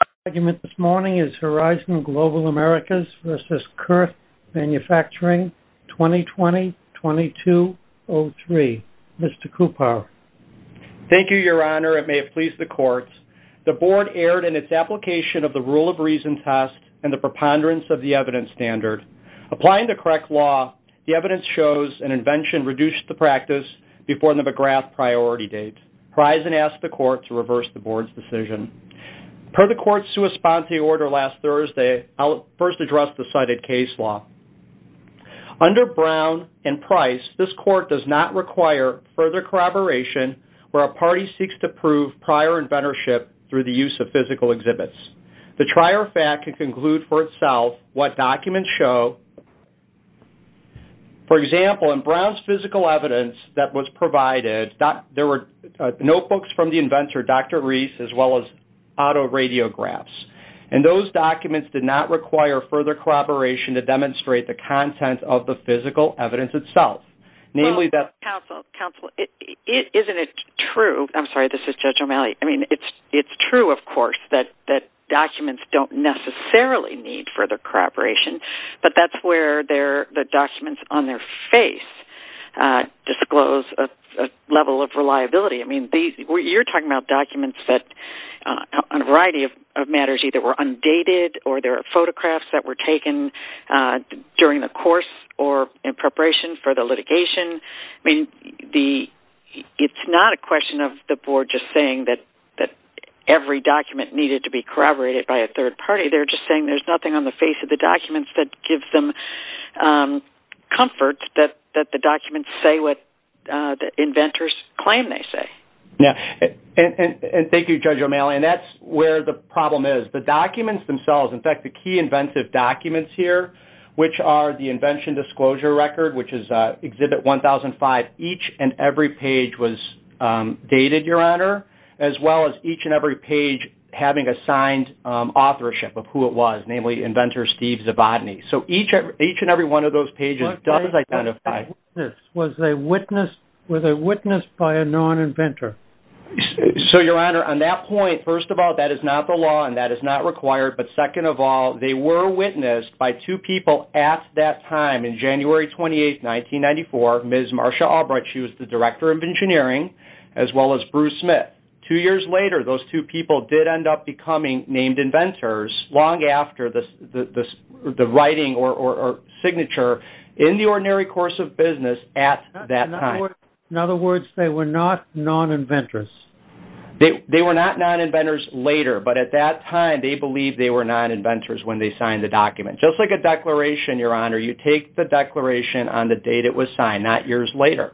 The first argument this morning is Horizon Global Americas v. Curt Manufacturing, 2020-2203. Mr. Kupar. Thank you, Your Honor. It may have pleased the courts. The board erred in its application of the rule of reason test and the preponderance of the evidence standard. Applying the correct law, the evidence shows an invention reduced the practice before the McGrath priority date. Horizon asked the court to reverse the board's decision. Per the court's sua sponte order last Thursday, I'll first address the cited case law. Under Brown and Price, this court does not require further corroboration where a party seeks to prove prior inventorship through the use of physical exhibits. The trier fact can conclude for itself what documents show. For example, in Brown's physical evidence that was provided, there were notebooks from the inventor, Dr. Reese, as well as autoradiographs. Those documents did not require further corroboration to demonstrate the content of the physical evidence itself. Namely, that- Counsel, counsel, isn't it true, I'm sorry, this is Judge O'Malley, it's true, of course, that documents don't necessarily need further corroboration, but that's where the documents on their face disclose a level of reliability. You're talking about documents that, on a variety of matters, either were undated or there are photographs that were taken during the course or in preparation for the litigation. It's not a question of the board just saying that every document needed to be corroborated by a third party. They're just saying there's nothing on the face of the documents that gives them comfort that the documents say what the inventors claim they say. Yeah, and thank you, Judge O'Malley, and that's where the problem is. The documents themselves, in fact, the key inventive documents here, which are the invention disclosure record, which is Exhibit 1005, each and every page was dated, Your Honor, as well as each and every page having a signed authorship of who it was, namely inventor Steve Zavodny. So each and every one of those pages does identify. Were they witnessed by a non-inventor? So, Your Honor, on that point, first of all, that is not the law and that is not required, but second of all, they were witnessed by two people at that time in January 28, 1994, Ms. Marsha Albright. She was the Director of Engineering, as well as Bruce Smith. Two years later, those two people did end up becoming named inventors long after the writing or signature in the Ordinary Course of Business at that time. In other words, they were not non-inventors? They were not non-inventors later, but at that time, they believed they were non-inventors when they signed the document, just like a declaration, Your Honor. You take the declaration on the date it was signed, not years later,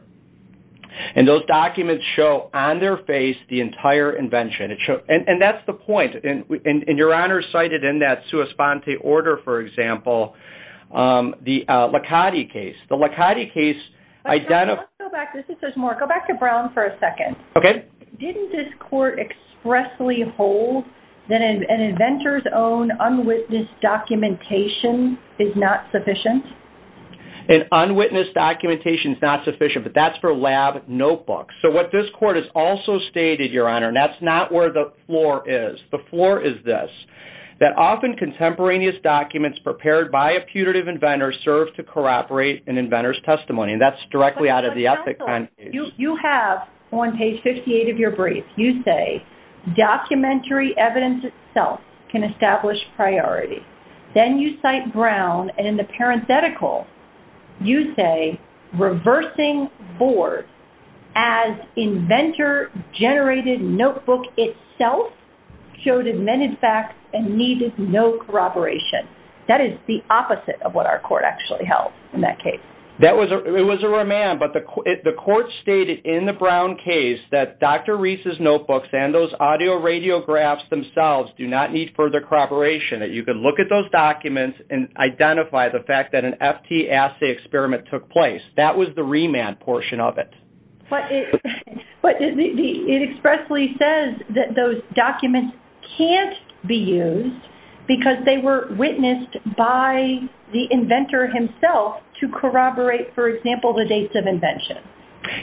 and those documents show on their face the entire invention, and that's the point, and Your Honor cited in that sua sponte order, for example, the Licati case. The Licati case identified... Let's go back. There's more. Go back to Brown for a second. Okay. Didn't this court expressly hold that an inventor's own unwitnessed documentation is not sufficient? An unwitnessed documentation is not sufficient, but that's for lab notebooks. So what this court has also stated, Your Honor, and that's not where the floor is, the floor is this, that often contemporaneous documents prepared by a putative inventor serve to corroborate an inventor's testimony, and that's directly out of the ethics... You have on page 58 of your brief, you say, documentary evidence itself can establish priority. Then you cite Brown, and in the parenthetical, you say, reversing board as inventor-generated notebook itself showed admitted facts and needed no corroboration. That is the opposite of what our court actually held in that case. That was... It was a remand, but the court stated in the Brown case that Dr. Reese's notebooks and those audio radiographs themselves do not need further corroboration, that you can look at those documents and identify the fact that an FT assay experiment took place. That was the remand portion of it. But it expressly says that those documents can't be used because they were witnessed by the inventor himself to corroborate, for example, the dates of invention.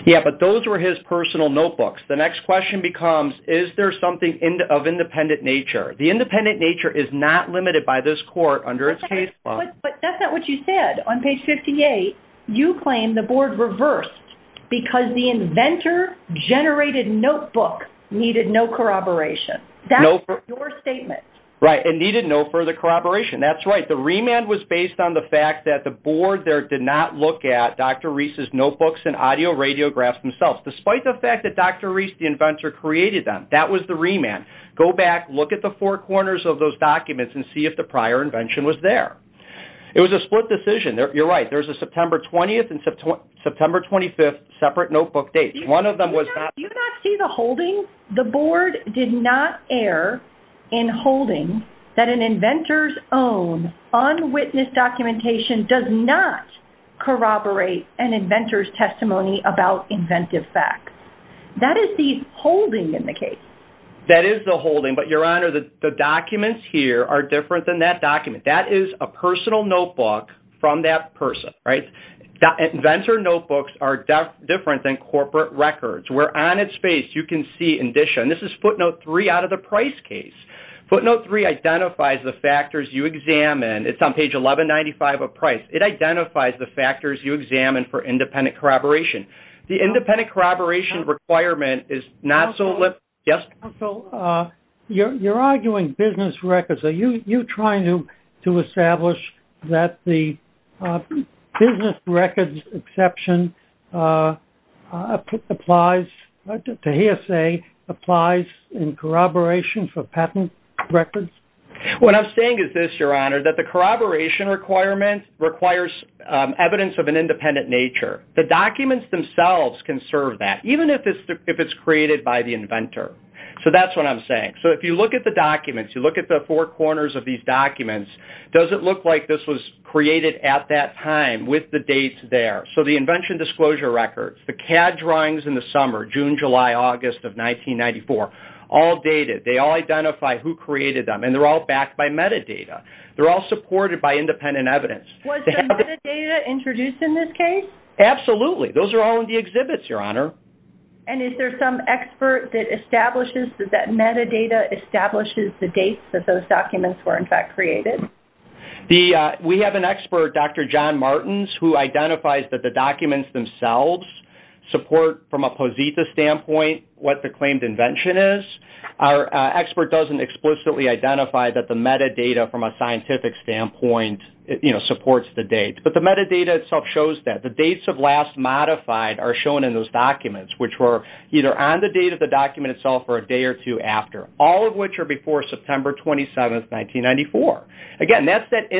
Yeah, but those were his personal notebooks. The next question becomes, is there something of independent nature? The independent nature is not limited by this court under its case law. But that's not what you said. On page 58, you claim the board reversed because the inventor-generated notebook needed no corroboration. That's your statement. Right, it needed no further corroboration. That's right. The remand was based on the fact that the board there did not look at Dr. Reese's notebooks and audio radiographs themselves. Despite the fact that Dr. Reese, the inventor, created them. That was the remand. Go back, look at the four corners of those documents, and see if the prior invention was there. It was a split decision. You're right. There's a September 20th and September 25th separate notebook dates. One of them was... Do you not see the holding? The board did not err in holding that an inventor's own, unwitnessed documentation does not corroborate an inventor's testimony about inventive facts. That is the holding in the case. That is the holding, but your honor, the documents here are different than that document. That is a personal notebook from that person, right? Inventor notebooks are different than corporate records. Where on its face, you can see in Disha, and this is footnote three out of the price case. Footnote three identifies the factors you examine. It's on page 1195 of price. It identifies the factors you examine for independent corroboration. The independent corroboration requirement is not so... Yes? So, you're arguing business records. Are you trying to establish that the business records exception applies, to hear say, applies in corroboration for patent records? What I'm saying is this, your honor, that the corroboration requirement requires evidence of an independent nature. The documents themselves can serve that, even if it's created by the inventor. So that's what I'm saying. So if you look at the documents, you look at the four corners of these documents, does it look like this was created at that time with the dates there? So the invention disclosure records, the CAD drawings in the summer, June, July, August of 1994, all dated. They all identify who created them, and they're all backed by metadata. They're all supported by independent evidence. Was the metadata introduced in this case? Absolutely. Those are all in the exhibits, your honor. And is there some expert that establishes that that metadata establishes the dates that those documents were in fact created? We have an expert, Dr. John Martins, who identifies that the documents themselves support, from a Posita standpoint, what the claimed invention is. Our expert doesn't explicitly identify that the metadata, from a scientific standpoint, supports the date. But the metadata itself shows that. The dates of last modified are shown in those documents, which were either on the date of the document itself or a day or two after, all of which are before September 27th, 1994. Again, that's that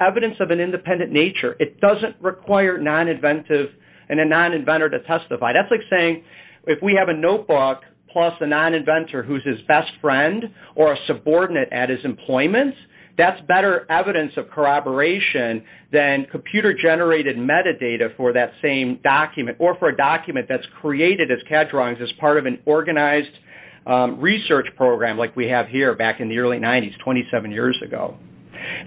evidence of an independent nature. It doesn't require non-inventive and a non-inventor to testify. That's like saying, if we have a notebook plus a non-inventor who's his best friend or a subordinate at his employment, that's better evidence of corroboration than computer-generated metadata for that same document or for a document that's created as CAD drawings as part of an organized research program like we have here back in the early 90s, 27 years ago.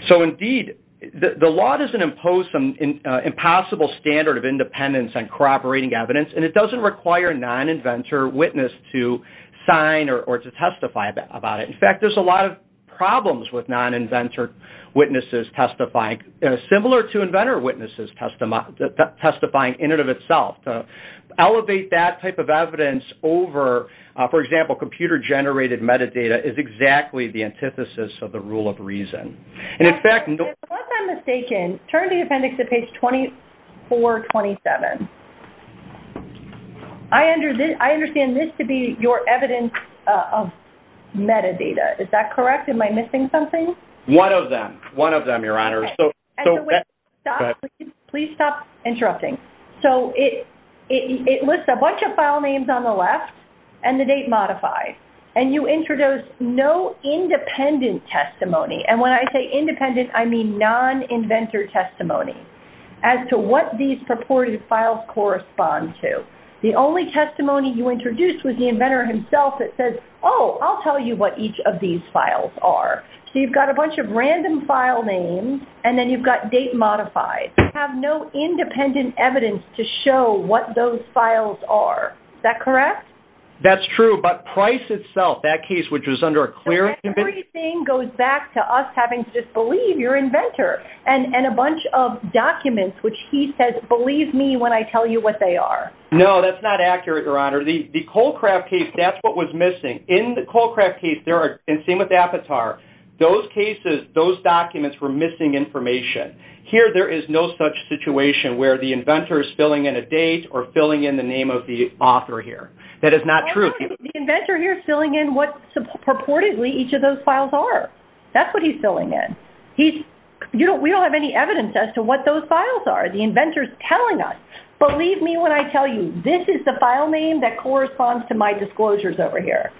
So indeed, the law doesn't impose some impossible standard of independence on corroborating evidence, and it doesn't require a non-inventor witness to sign or to testify about it. In fact, there's a lot of problems with non-inventor witnesses testifying, similar to inventor witnesses testifying in and of itself. To elevate that type of evidence over, for example, computer-generated metadata is exactly the antithesis of the rule of reason. And in fact... If I'm mistaken, turn to the appendix at page 2427. I understand this to be your evidence of metadata. Is that correct? Am I missing something? One of them. One of them, Your Honor. So... And the way... Go ahead. Please stop interrupting. So it lists a bunch of file names on the left and the date modified. And you introduce no independent testimony. And when I say independent, I mean non-inventor testimony as to what these purported files correspond to. The only testimony you introduced was the inventor himself that says, oh, I'll tell you what each of these files are. So you've got a bunch of random file names, and then you've got date modified. You have no independent evidence to show what those files are. Is that correct? That's true. But Price itself, that case which was under a clear... Everything goes back to us having to just believe your inventor and a bunch of documents which he says, believe me when I tell you what they are. No, that's not accurate, Your Honor. The Colecraft case, that's what was missing. In the Colecraft case, there are... And same with the Apatar. Those cases, those documents were missing information. Here there is no such situation where the inventor is filling in a date or filling in the name of the author here. That is not true. The inventor here is filling in what purportedly each of those files are. That's what he's filling in. He's... You know, we don't have any evidence as to what those files are. The inventor is telling us, believe me when I tell you, this is the file name that corresponds to my disclosures over here.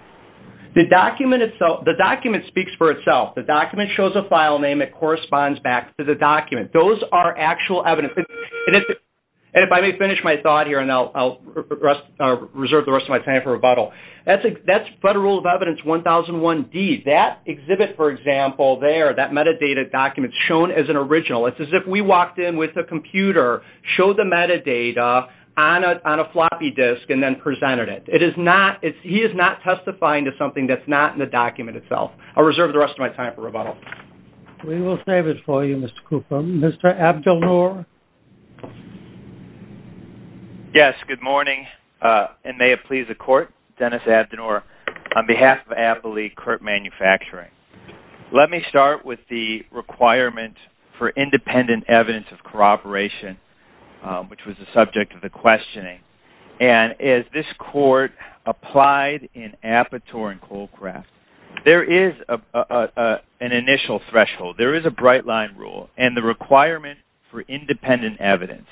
The document itself... The document speaks for itself. The document shows a file name that corresponds back to the document. Those are actual evidence. And if I may finish my thought here, and I'll reserve the rest of my time for rebuttal. That's Federal Rule of Evidence 1001D. That exhibit, for example, there, that metadata document is shown as an original. It's as if we walked in with a computer, showed the metadata on a floppy disk, and then presented it. It is not... He is not testifying to something that's not in the document itself. I'll reserve the rest of my time for rebuttal. We will save it for you, Mr. Coupom. Mr. Abdelnour? Yes. Good morning. And may it please the Court, Dennis Abdelnour, on behalf of Abilene Curt Manufacturing. Let me start with the requirement for independent evidence of corroboration, which was the subject of the questioning. And as this Court applied in Apatow and Colcraft, there is an initial threshold. There is a bright-line rule. And the requirement for independent evidence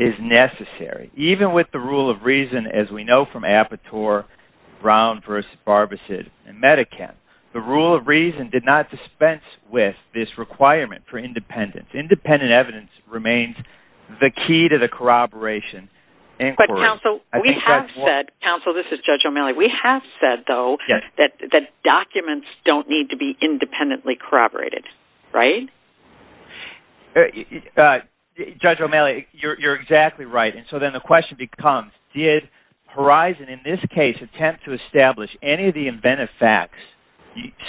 is necessary, even with the rule of reason, as we know from Apatow, Brown v. Barbicid, and Medikam. The rule of reason did not dispense with this requirement for independence. Independent evidence remains the key to the corroboration inquiry. But, counsel, we have said... Counsel, this is Judge O'Malley. We have said, though, that documents don't need to be independently corroborated, right? Judge O'Malley, you're exactly right. And so then the question becomes, did Horizon, in this case, attempt to establish any of the inventive facts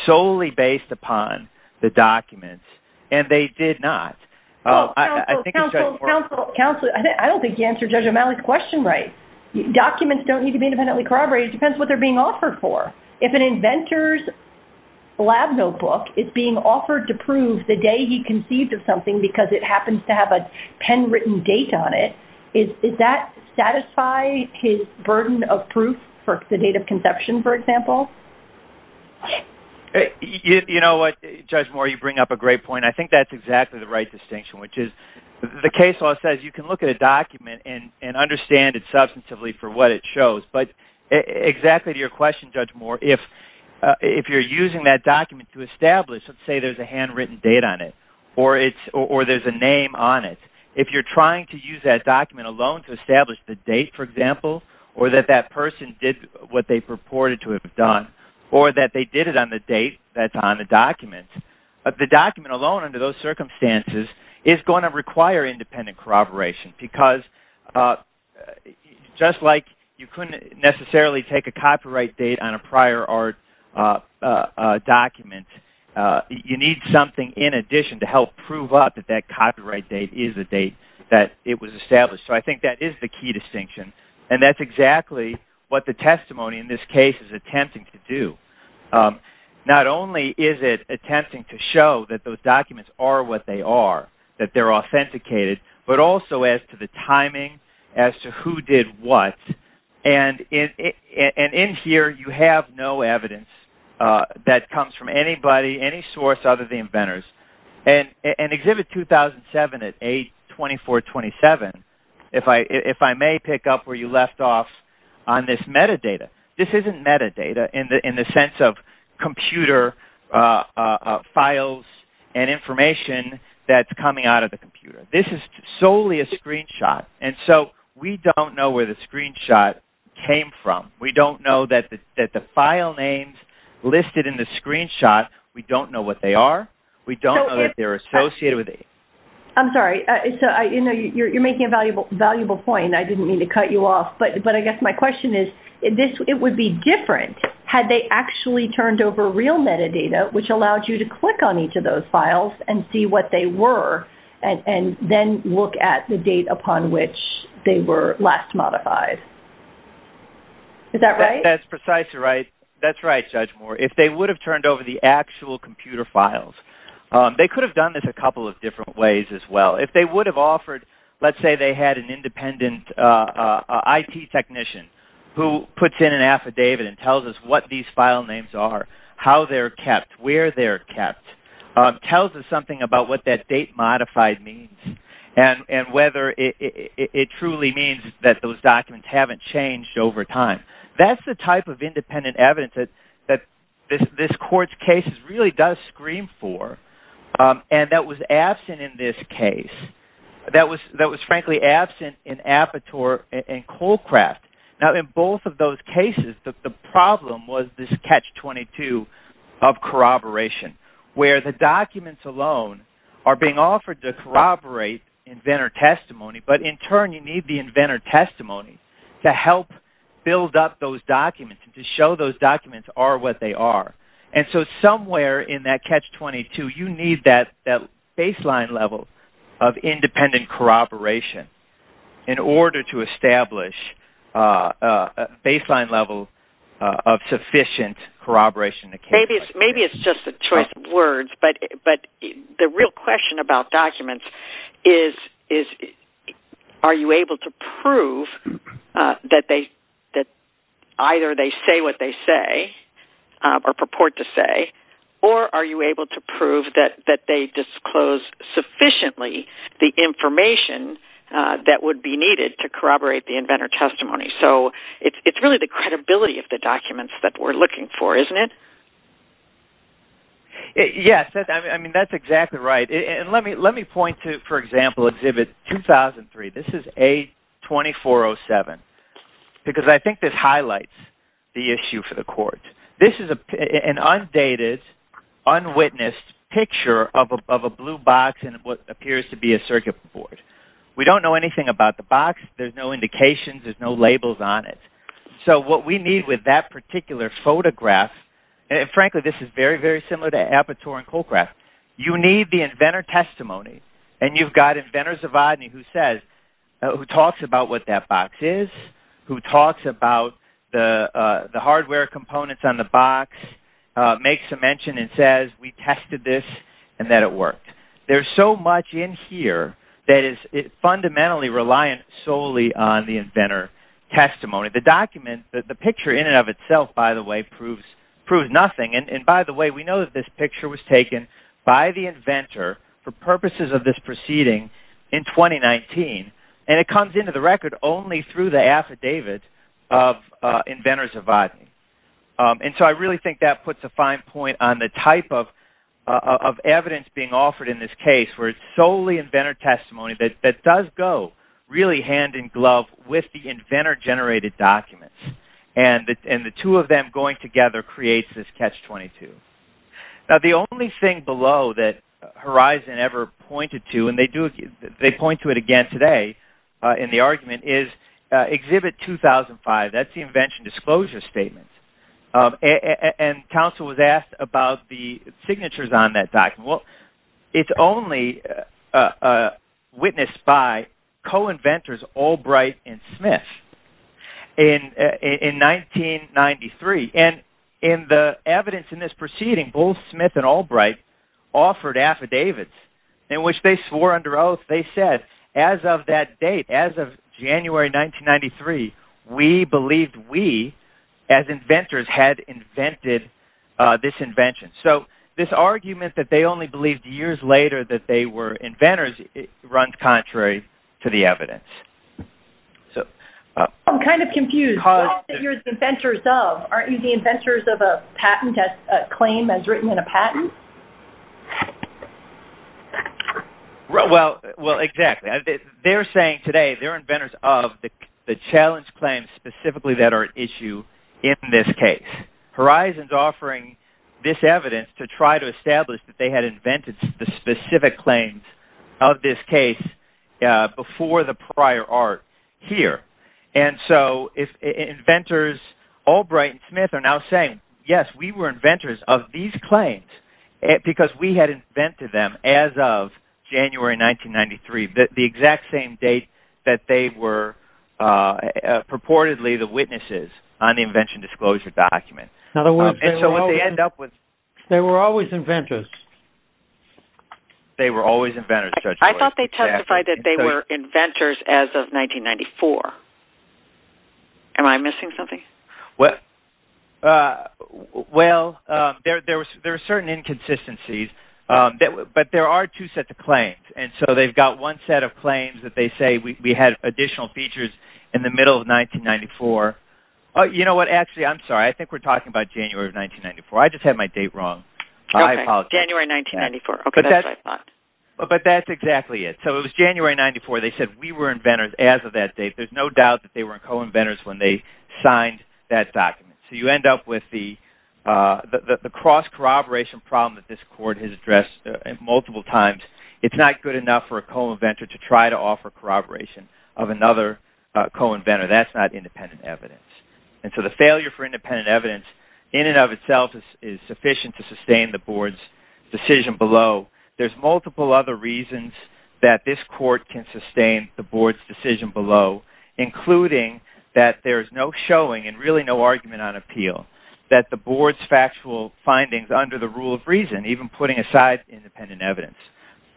solely based upon the documents? And they did not. Oh, I think... Counsel, counsel, counsel, I don't think you answered Judge O'Malley's question right. Documents don't need to be independently corroborated. It depends what they're being offered for. If an inventor's lab notebook is being offered to prove the day he conceived of something because it happens to have a pen-written date on it, does that satisfy his burden of proof for the date of conception, for example? You know what, Judge Moore, you bring up a great point. I think that's exactly the right distinction, which is the case law says you can look at a document and understand it substantively for what it shows. But exactly to your question, Judge Moore, if you're using that document to establish, let's say there's a handwritten date on it or there's a name on it, if you're trying to use that document alone to establish the date, for example, or that that person did what they purported to have done or that they did it on the date that's on the document, the document alone under those circumstances is going to require independent corroboration because just like you couldn't necessarily take a copyright date on a prior art document, you need something in addition to help prove up that that copyright date is the date that it was established. So I think that is the key distinction. And that's exactly what the testimony in this case is attempting to do. Not only is it attempting to show that those documents are what they are, that they're authenticated, but also as to the timing, as to who did what. And in here, you have no evidence that comes from anybody, any source other than inventors. And Exhibit 2007 at A2427, if I may pick up where you left off on this metadata, this isn't metadata in the sense of computer files and information that's coming out of the computer. This is solely a screenshot. And so we don't know where the screenshot came from. We don't know that the file names listed in the screenshot, we don't know what they are. We don't know that they're associated with it. I'm sorry. So, you know, you're making a valuable point. I didn't mean to cut you off. But I guess my question is, it would be different had they actually turned over real metadata which allowed you to click on each of those files and see what they were and then look at the date upon which they were last modified. Is that right? That's precisely right. That's right, Judge Moore. If they would have turned over the actual computer files, they could have done this a couple of different ways as well. If they would have offered, let's say they had an independent IT technician who puts in an affidavit and tells us what these file names are, how they're kept, where they're kept, tells us something about what that date modified means and whether it truly means that those documents haven't changed over time. That's the type of independent evidence that this court's case really does scream for and that was absent in this case, that was frankly absent in Apatow and Colcraft. Now, in both of those cases, the problem was this catch-22 of corroboration where the documents alone are being offered to corroborate inventor testimony but in turn you need the inventor testimony to help build up those documents and to show those documents are what they are. And so somewhere in that catch-22, you need that baseline level of independent corroboration in order to establish a baseline level of sufficient corroboration. Maybe it's just a choice of words but the real question about documents is are you able to prove that either they say what they say or purport to say or are you able to prove that they disclose sufficiently the information that would be needed to corroborate the inventor testimony. So it's really the credibility of the documents that we're looking for, isn't it? Yes, I mean that's exactly right. And let me point to, for example, Exhibit 2003. This is A2407 because I think this highlights the issue for the court. This is an undated, unwitnessed picture of a blue box and what appears to be a circuit board. We don't know anything about the box. There's no indications. There's no labels on it. So what we need with that particular photograph, and frankly this is very, very similar to Aperture and Colecraft, you need the inventor testimony and you've got inventors of ODNI who says, who talks about what that box is, who talks about the hardware components on the box, makes a mention and says we tested this and that it worked. There's so much in here that is fundamentally reliant solely on the inventor testimony. The document, the picture in and of itself, by the way, proves nothing. And by the way, we know that this picture was taken by the inventor for purposes of this proceeding in 2019 and it comes into the record only through the affidavit of inventors of ODNI. And so I really think that puts a fine point on the type of evidence being offered in this case where it's solely inventor testimony that does go really hand in glove with the inventor-generated documents and the two of them going together creates this Catch-22. Now the only thing below that Horizon ever pointed to, and they do, they point to it again today in the argument, is Exhibit 2005. That's the invention disclosure statement. And counsel was asked about the signatures on that document. Well, it's only witnessed by co-inventors Albright and Smith in 1993. And in the evidence in this proceeding, both Smith and Albright offered affidavits in which they swore under oath, they said as of that date, as of January 1993, we believed we as inventors had invented this invention. So this argument that they only believed years later that they were inventors runs contrary to the evidence. So... I'm kind of confused. Because you're the inventors of, aren't you the inventors of a patent claim as written in a patent? Well, exactly. They're saying today they're inventors of the challenge claims specifically that are at issue in this case. And Horizon's offering this evidence to try to establish that they had invented the specific claims of this case before the prior art here. And so if inventors Albright and Smith are now saying, yes, we were inventors of these claims because we had invented them as of January 1993, the exact same date that they were purportedly the witnesses on the invention disclosure document. In other words, they were always inventors. They were always inventors, Judge Boyd. I thought they testified that they were inventors as of 1994. Am I missing something? Well, there are certain inconsistencies, but there are two sets of claims. And so they've got one set of claims that they say we had additional features in the middle of 1994. Oh, you know what? Actually, I'm sorry. I think we're talking about January of 1994. I just had my date wrong. I apologize. January 1994. Okay, that's what I thought. But that's exactly it. So it was January 94. They said we were inventors as of that date. There's no doubt that they were co-inventors when they signed that document. So you end up with the cross-corroboration problem that this court has addressed multiple times. It's not good enough for a co-inventor to try to offer corroboration of another co-inventor. That's not independent evidence. And so the failure for independent evidence in and of itself is sufficient to sustain the board's decision below. There's multiple other reasons that this court can sustain the board's decision below, including that there's no showing and really no argument on appeal, that the board's factual findings under the rule of reason, even putting aside independent evidence,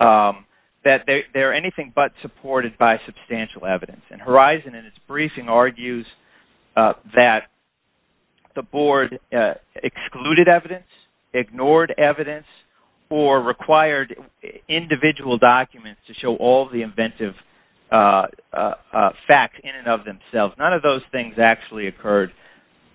that they're anything but supported by substantial evidence. And Horizon, in its briefing, argues that the board excluded evidence, ignored evidence, or required individual documents to show all the inventive facts in and of themselves. None of those things actually occurred.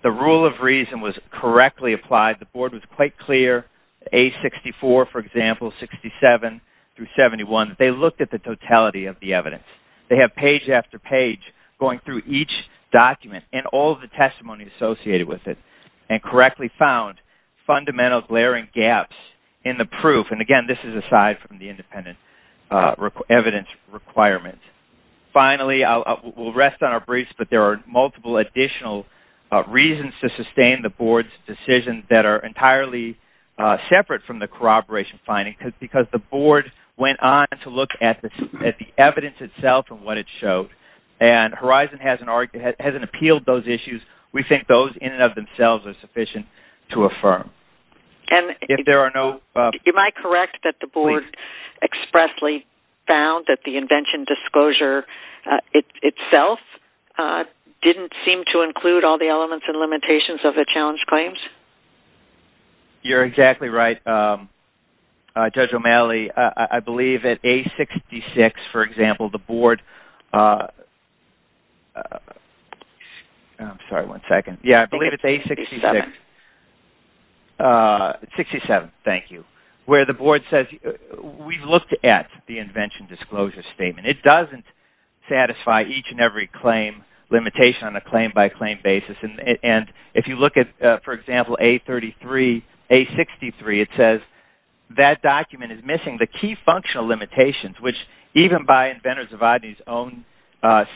The rule of reason was correctly applied. The board was quite clear, A64, for example, 67 through 71, that they looked at the totality of the evidence. They have page after page going through each document and all the testimony associated with it, and correctly found fundamental glaring gaps in the proof. And again, this is aside from the independent evidence requirement. Finally, we'll rest on our briefs, but there are multiple additional reasons to sustain the board's decision that are entirely separate from the corroboration findings, because the board went on to look at the evidence itself and what it showed. And Horizon hasn't appealed those issues. We think those in and of themselves are sufficient to affirm. If there are no... Am I correct that the board expressly found that the invention disclosure itself didn't seem to include all the elements and limitations of the challenge claims? You're exactly right, Judge O'Malley. I believe that A66, for example, the board... I'm sorry, one second. Yeah, I believe it's A66. 67, thank you. Where the board says, we've looked at the invention disclosure statement. It doesn't satisfy each and every claim limitation on a claim-by-claim basis. And if you look at, for example, A33, A63, it says that document is missing the key functional limitations, which even by inventors of ODNI's own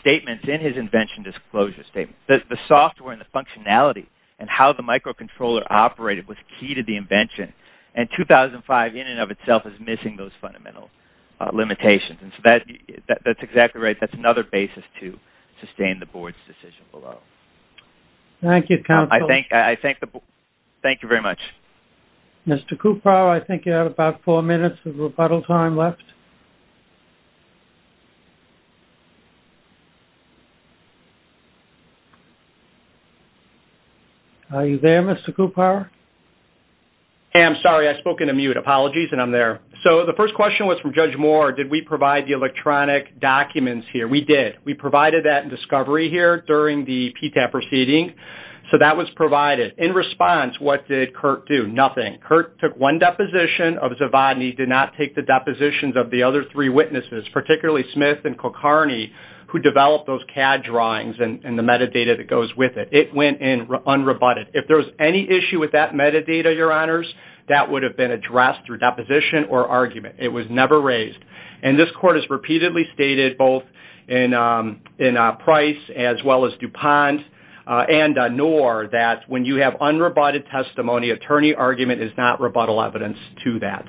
statements in his invention disclosure statement, the software and the functionality and how the microcontroller operated was key to the invention, and 2005 in and of itself is missing those fundamental limitations. And so that's exactly right. That's another basis to sustain the board's decision below. Thank you, counsel. I thank the board. Thank you very much. Mr. Kupar, I think you have about four minutes of rebuttal time left. Are you there, Mr. Kupar? Hey, I'm sorry. I spoke in a mute. Apologies, and I'm there. So the first question was from Judge Moore. Did we provide the electronic documents here? We did. We provided that in discovery here during the PTAP proceeding, so that was provided. In response, what did Curt do? Nothing. Curt took one deposition of Zavodny, did not take the depositions of the other three witnesses, particularly Smith and Kulkarni, who developed those CAD drawings and the metadata that goes with it. It went in unrebutted. If there was any issue with that metadata, your honors, that would have been addressed through deposition or argument. It was never raised. And this court has repeatedly stated both in Price as well as DuPont and Noor that when you have unrebutted testimony, attorney argument is not rebuttal evidence to that.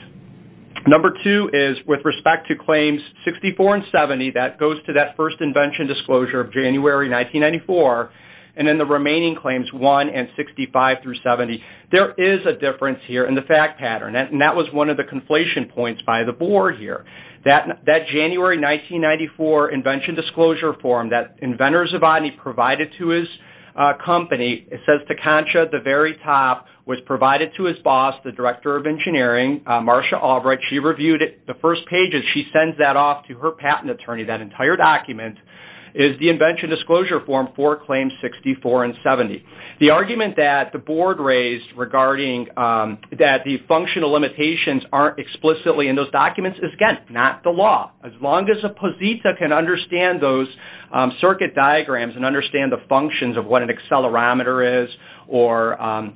Number two is with respect to claims 64 and 70, that goes to that first invention disclosure of January 1994, and then the remaining claims 1 and 65 through 70, there is a difference here in the fact pattern. And that was one of the conflation points by the board here. That January 1994 invention disclosure form that inventors Zavodny provided to his company, it says to Concha, the very top, was provided to his boss, the director of engineering, Marcia Albright. She reviewed it. The first pages, she sends that off to her patent attorney, that entire document, is the invention disclosure form for claims 64 and 70. The argument that the board raised regarding that the functional limitations aren't explicitly in those documents is, again, not the law. As long as a posita can understand those circuit diagrams and understand the functions of what an accelerometer is or a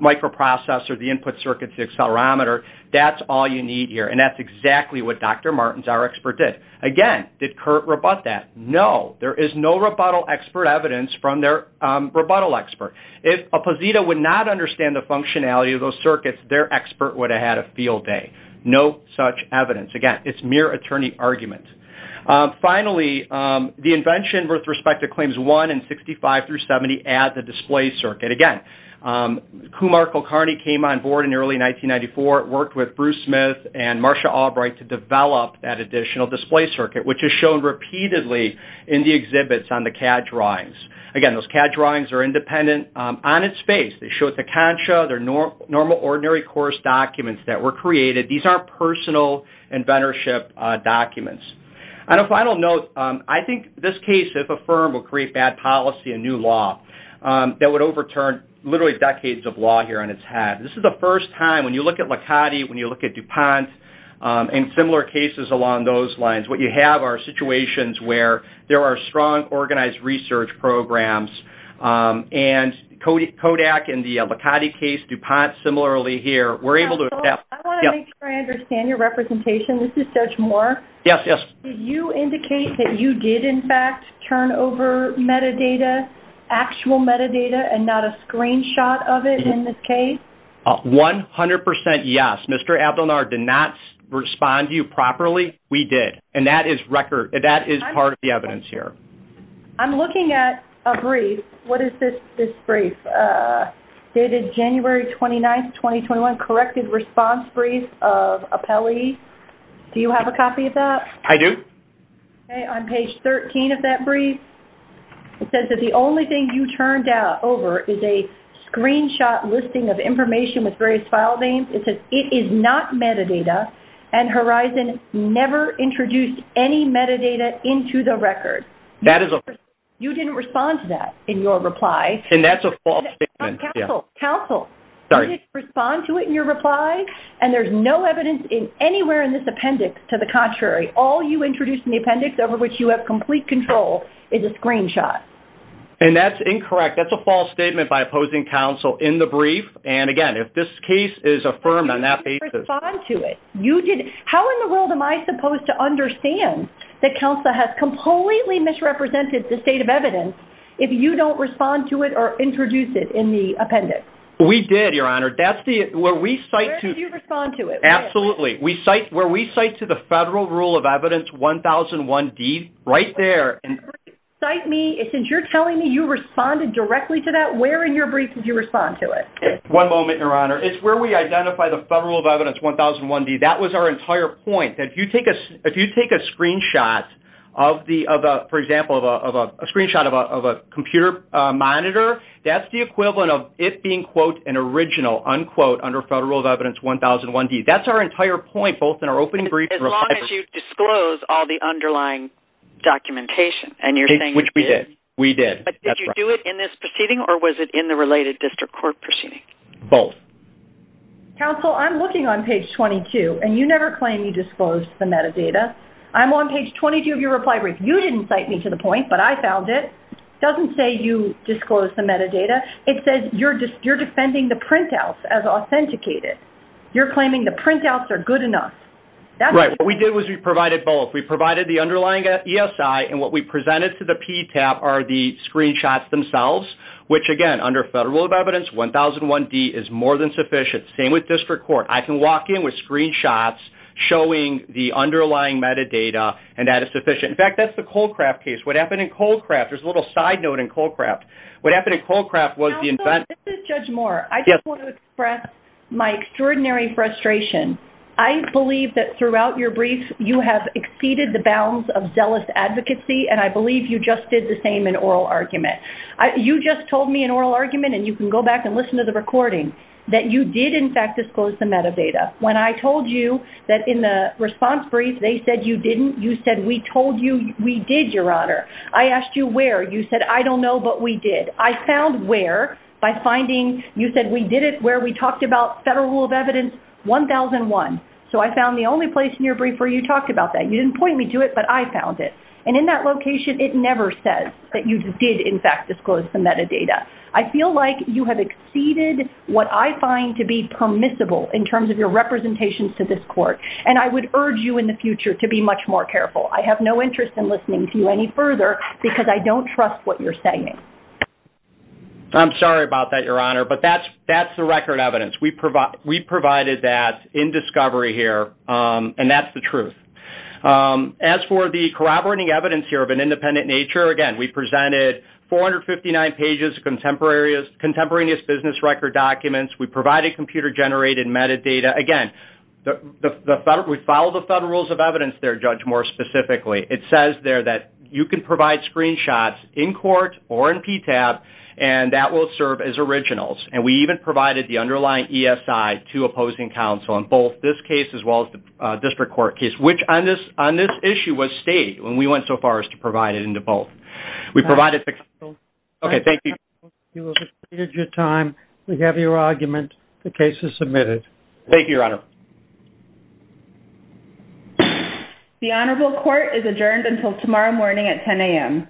microprocessor, the input circuits, the accelerometer, that's all you need here. And that's exactly what Dr. Martens, our expert, did. Again, did Curt rebut that? No. There is no rebuttal expert evidence from their rebuttal expert. If a posita would not understand the functionality of those circuits, their expert would have had a field day. No such evidence. Again, it's mere attorney argument. Finally, the invention with respect to claims 1 and 65 through 70 at the display circuit. Again, Kumar Kulkarni came on board in early 1994, worked with Bruce Smith and Marcia Albright to develop that additional display circuit, which is shown repeatedly in the exhibits on the CAD drawings. Again, those CAD drawings are independent on its face. They show it's a concha, they're normal ordinary course documents that were created. These aren't personal inventorship documents. And a final note, I think this case, if affirmed, will create bad policy and new law that would overturn literally decades of law here on its head. This is the first time, when you look at Lakati, when you look at DuPont, and similar cases along those lines, what you have are situations where there are strong organized research programs and Kodak in the Lakati case, DuPont similarly here, we're able to- I want to make sure I understand your representation. This is Judge Moore. Yes, yes. Did you indicate that you did, in fact, turn over metadata, actual metadata, and not a 100% yes. Mr. Abdonar did not respond to you properly. We did. And that is record. That is part of the evidence here. I'm looking at a brief. What is this brief? Dated January 29th, 2021, corrected response brief of appellee. Do you have a copy of that? I do. Okay. On page 13 of that brief, it says that the only thing you turned over is a screenshot listing of information with various file names. It says it is not metadata, and Horizon never introduced any metadata into the record. That is a- You didn't respond to that in your reply. And that's a false statement. Counsel, counsel. Sorry. You didn't respond to it in your reply, and there's no evidence anywhere in this appendix to the contrary. All you introduced in the appendix, over which you have complete control, is a screenshot. And that's incorrect. That's a false statement by opposing counsel in the brief. And again, if this case is affirmed on that basis- You didn't respond to it. You didn't. How in the world am I supposed to understand that counsel has completely misrepresented the state of evidence if you don't respond to it or introduce it in the appendix? We did, Your Honor. That's the- Where did you respond to it? Absolutely. We cite- Where we cite to the Federal Rule of Evidence 1001D, right there. You cite me. Since you're telling me you responded directly to that, where in your brief did you respond to it? One moment, Your Honor. It's where we identify the Federal Rule of Evidence 1001D. That was our entire point. That if you take a screenshot of the- for example, of a screenshot of a computer monitor, that's the equivalent of it being, quote, an original, unquote, under Federal Rule of Evidence 1001D. That's our entire point, both in our opening brief and reply- As long as you disclose all the underlying documentation, and you're saying- Which we did. We did. That's right. But did you do it in this proceeding, or was it in the related district court proceeding? Both. Counsel, I'm looking on page 22, and you never claim you disclosed the metadata. I'm on page 22 of your reply brief. You didn't cite me to the point, but I found it. Doesn't say you disclosed the metadata. It says you're defending the printouts as authenticated. You're claiming the printouts are good enough. That's- Right. What we did was we provided both. We provided the underlying ESI, and what we presented to the PTAB are the screenshots themselves, which again, under Federal Rule of Evidence 1001D, is more than sufficient. Same with district court. I can walk in with screenshots showing the underlying metadata, and that is sufficient. In fact, that's the Colcraft case. What happened in Colcraft- there's a little side note in Colcraft. What happened in Colcraft was the- Counsel, this is Judge Moore. Yes. I just want to express my extraordinary frustration. I believe that throughout your brief, you have exceeded the bounds of zealous advocacy, and I believe you just did the same in oral argument. You just told me in oral argument, and you can go back and listen to the recording, that you did, in fact, disclose the metadata. When I told you that in the response brief, they said you didn't, you said, we told you we did, Your Honor. I asked you where. You said, I don't know, but we did. I found where by finding- you said we did it where we talked about Federal Rule of Evidence 1001. So, I found the only place in your brief where you talked about that. You didn't point me to it, but I found it. And in that location, it never says that you did, in fact, disclose the metadata. I feel like you have exceeded what I find to be permissible in terms of your representations to this Court, and I would urge you in the future to be much more careful. I have no interest in listening to you any further because I don't trust what you're saying. I'm sorry about that, Your Honor, but that's the record evidence. We provided that in discovery here, and that's the truth. As for the corroborating evidence here of an independent nature, again, we presented 459 pages of contemporaneous business record documents. We provided computer-generated metadata. Again, we follow the Federal Rules of Evidence there, Judge, more specifically. It says there that you can provide screenshots in court or in PTAP, and that will serve as originals. And we even provided the underlying ESI to opposing counsel in both this case as well as the district court case, which on this issue was stated when we went so far as to provide it in both. We provided... Okay, thank you. You have exceeded your time. We have your argument. The case is submitted. Thank you, Your Honor. The Honorable Court is adjourned until tomorrow morning at 10 a.m.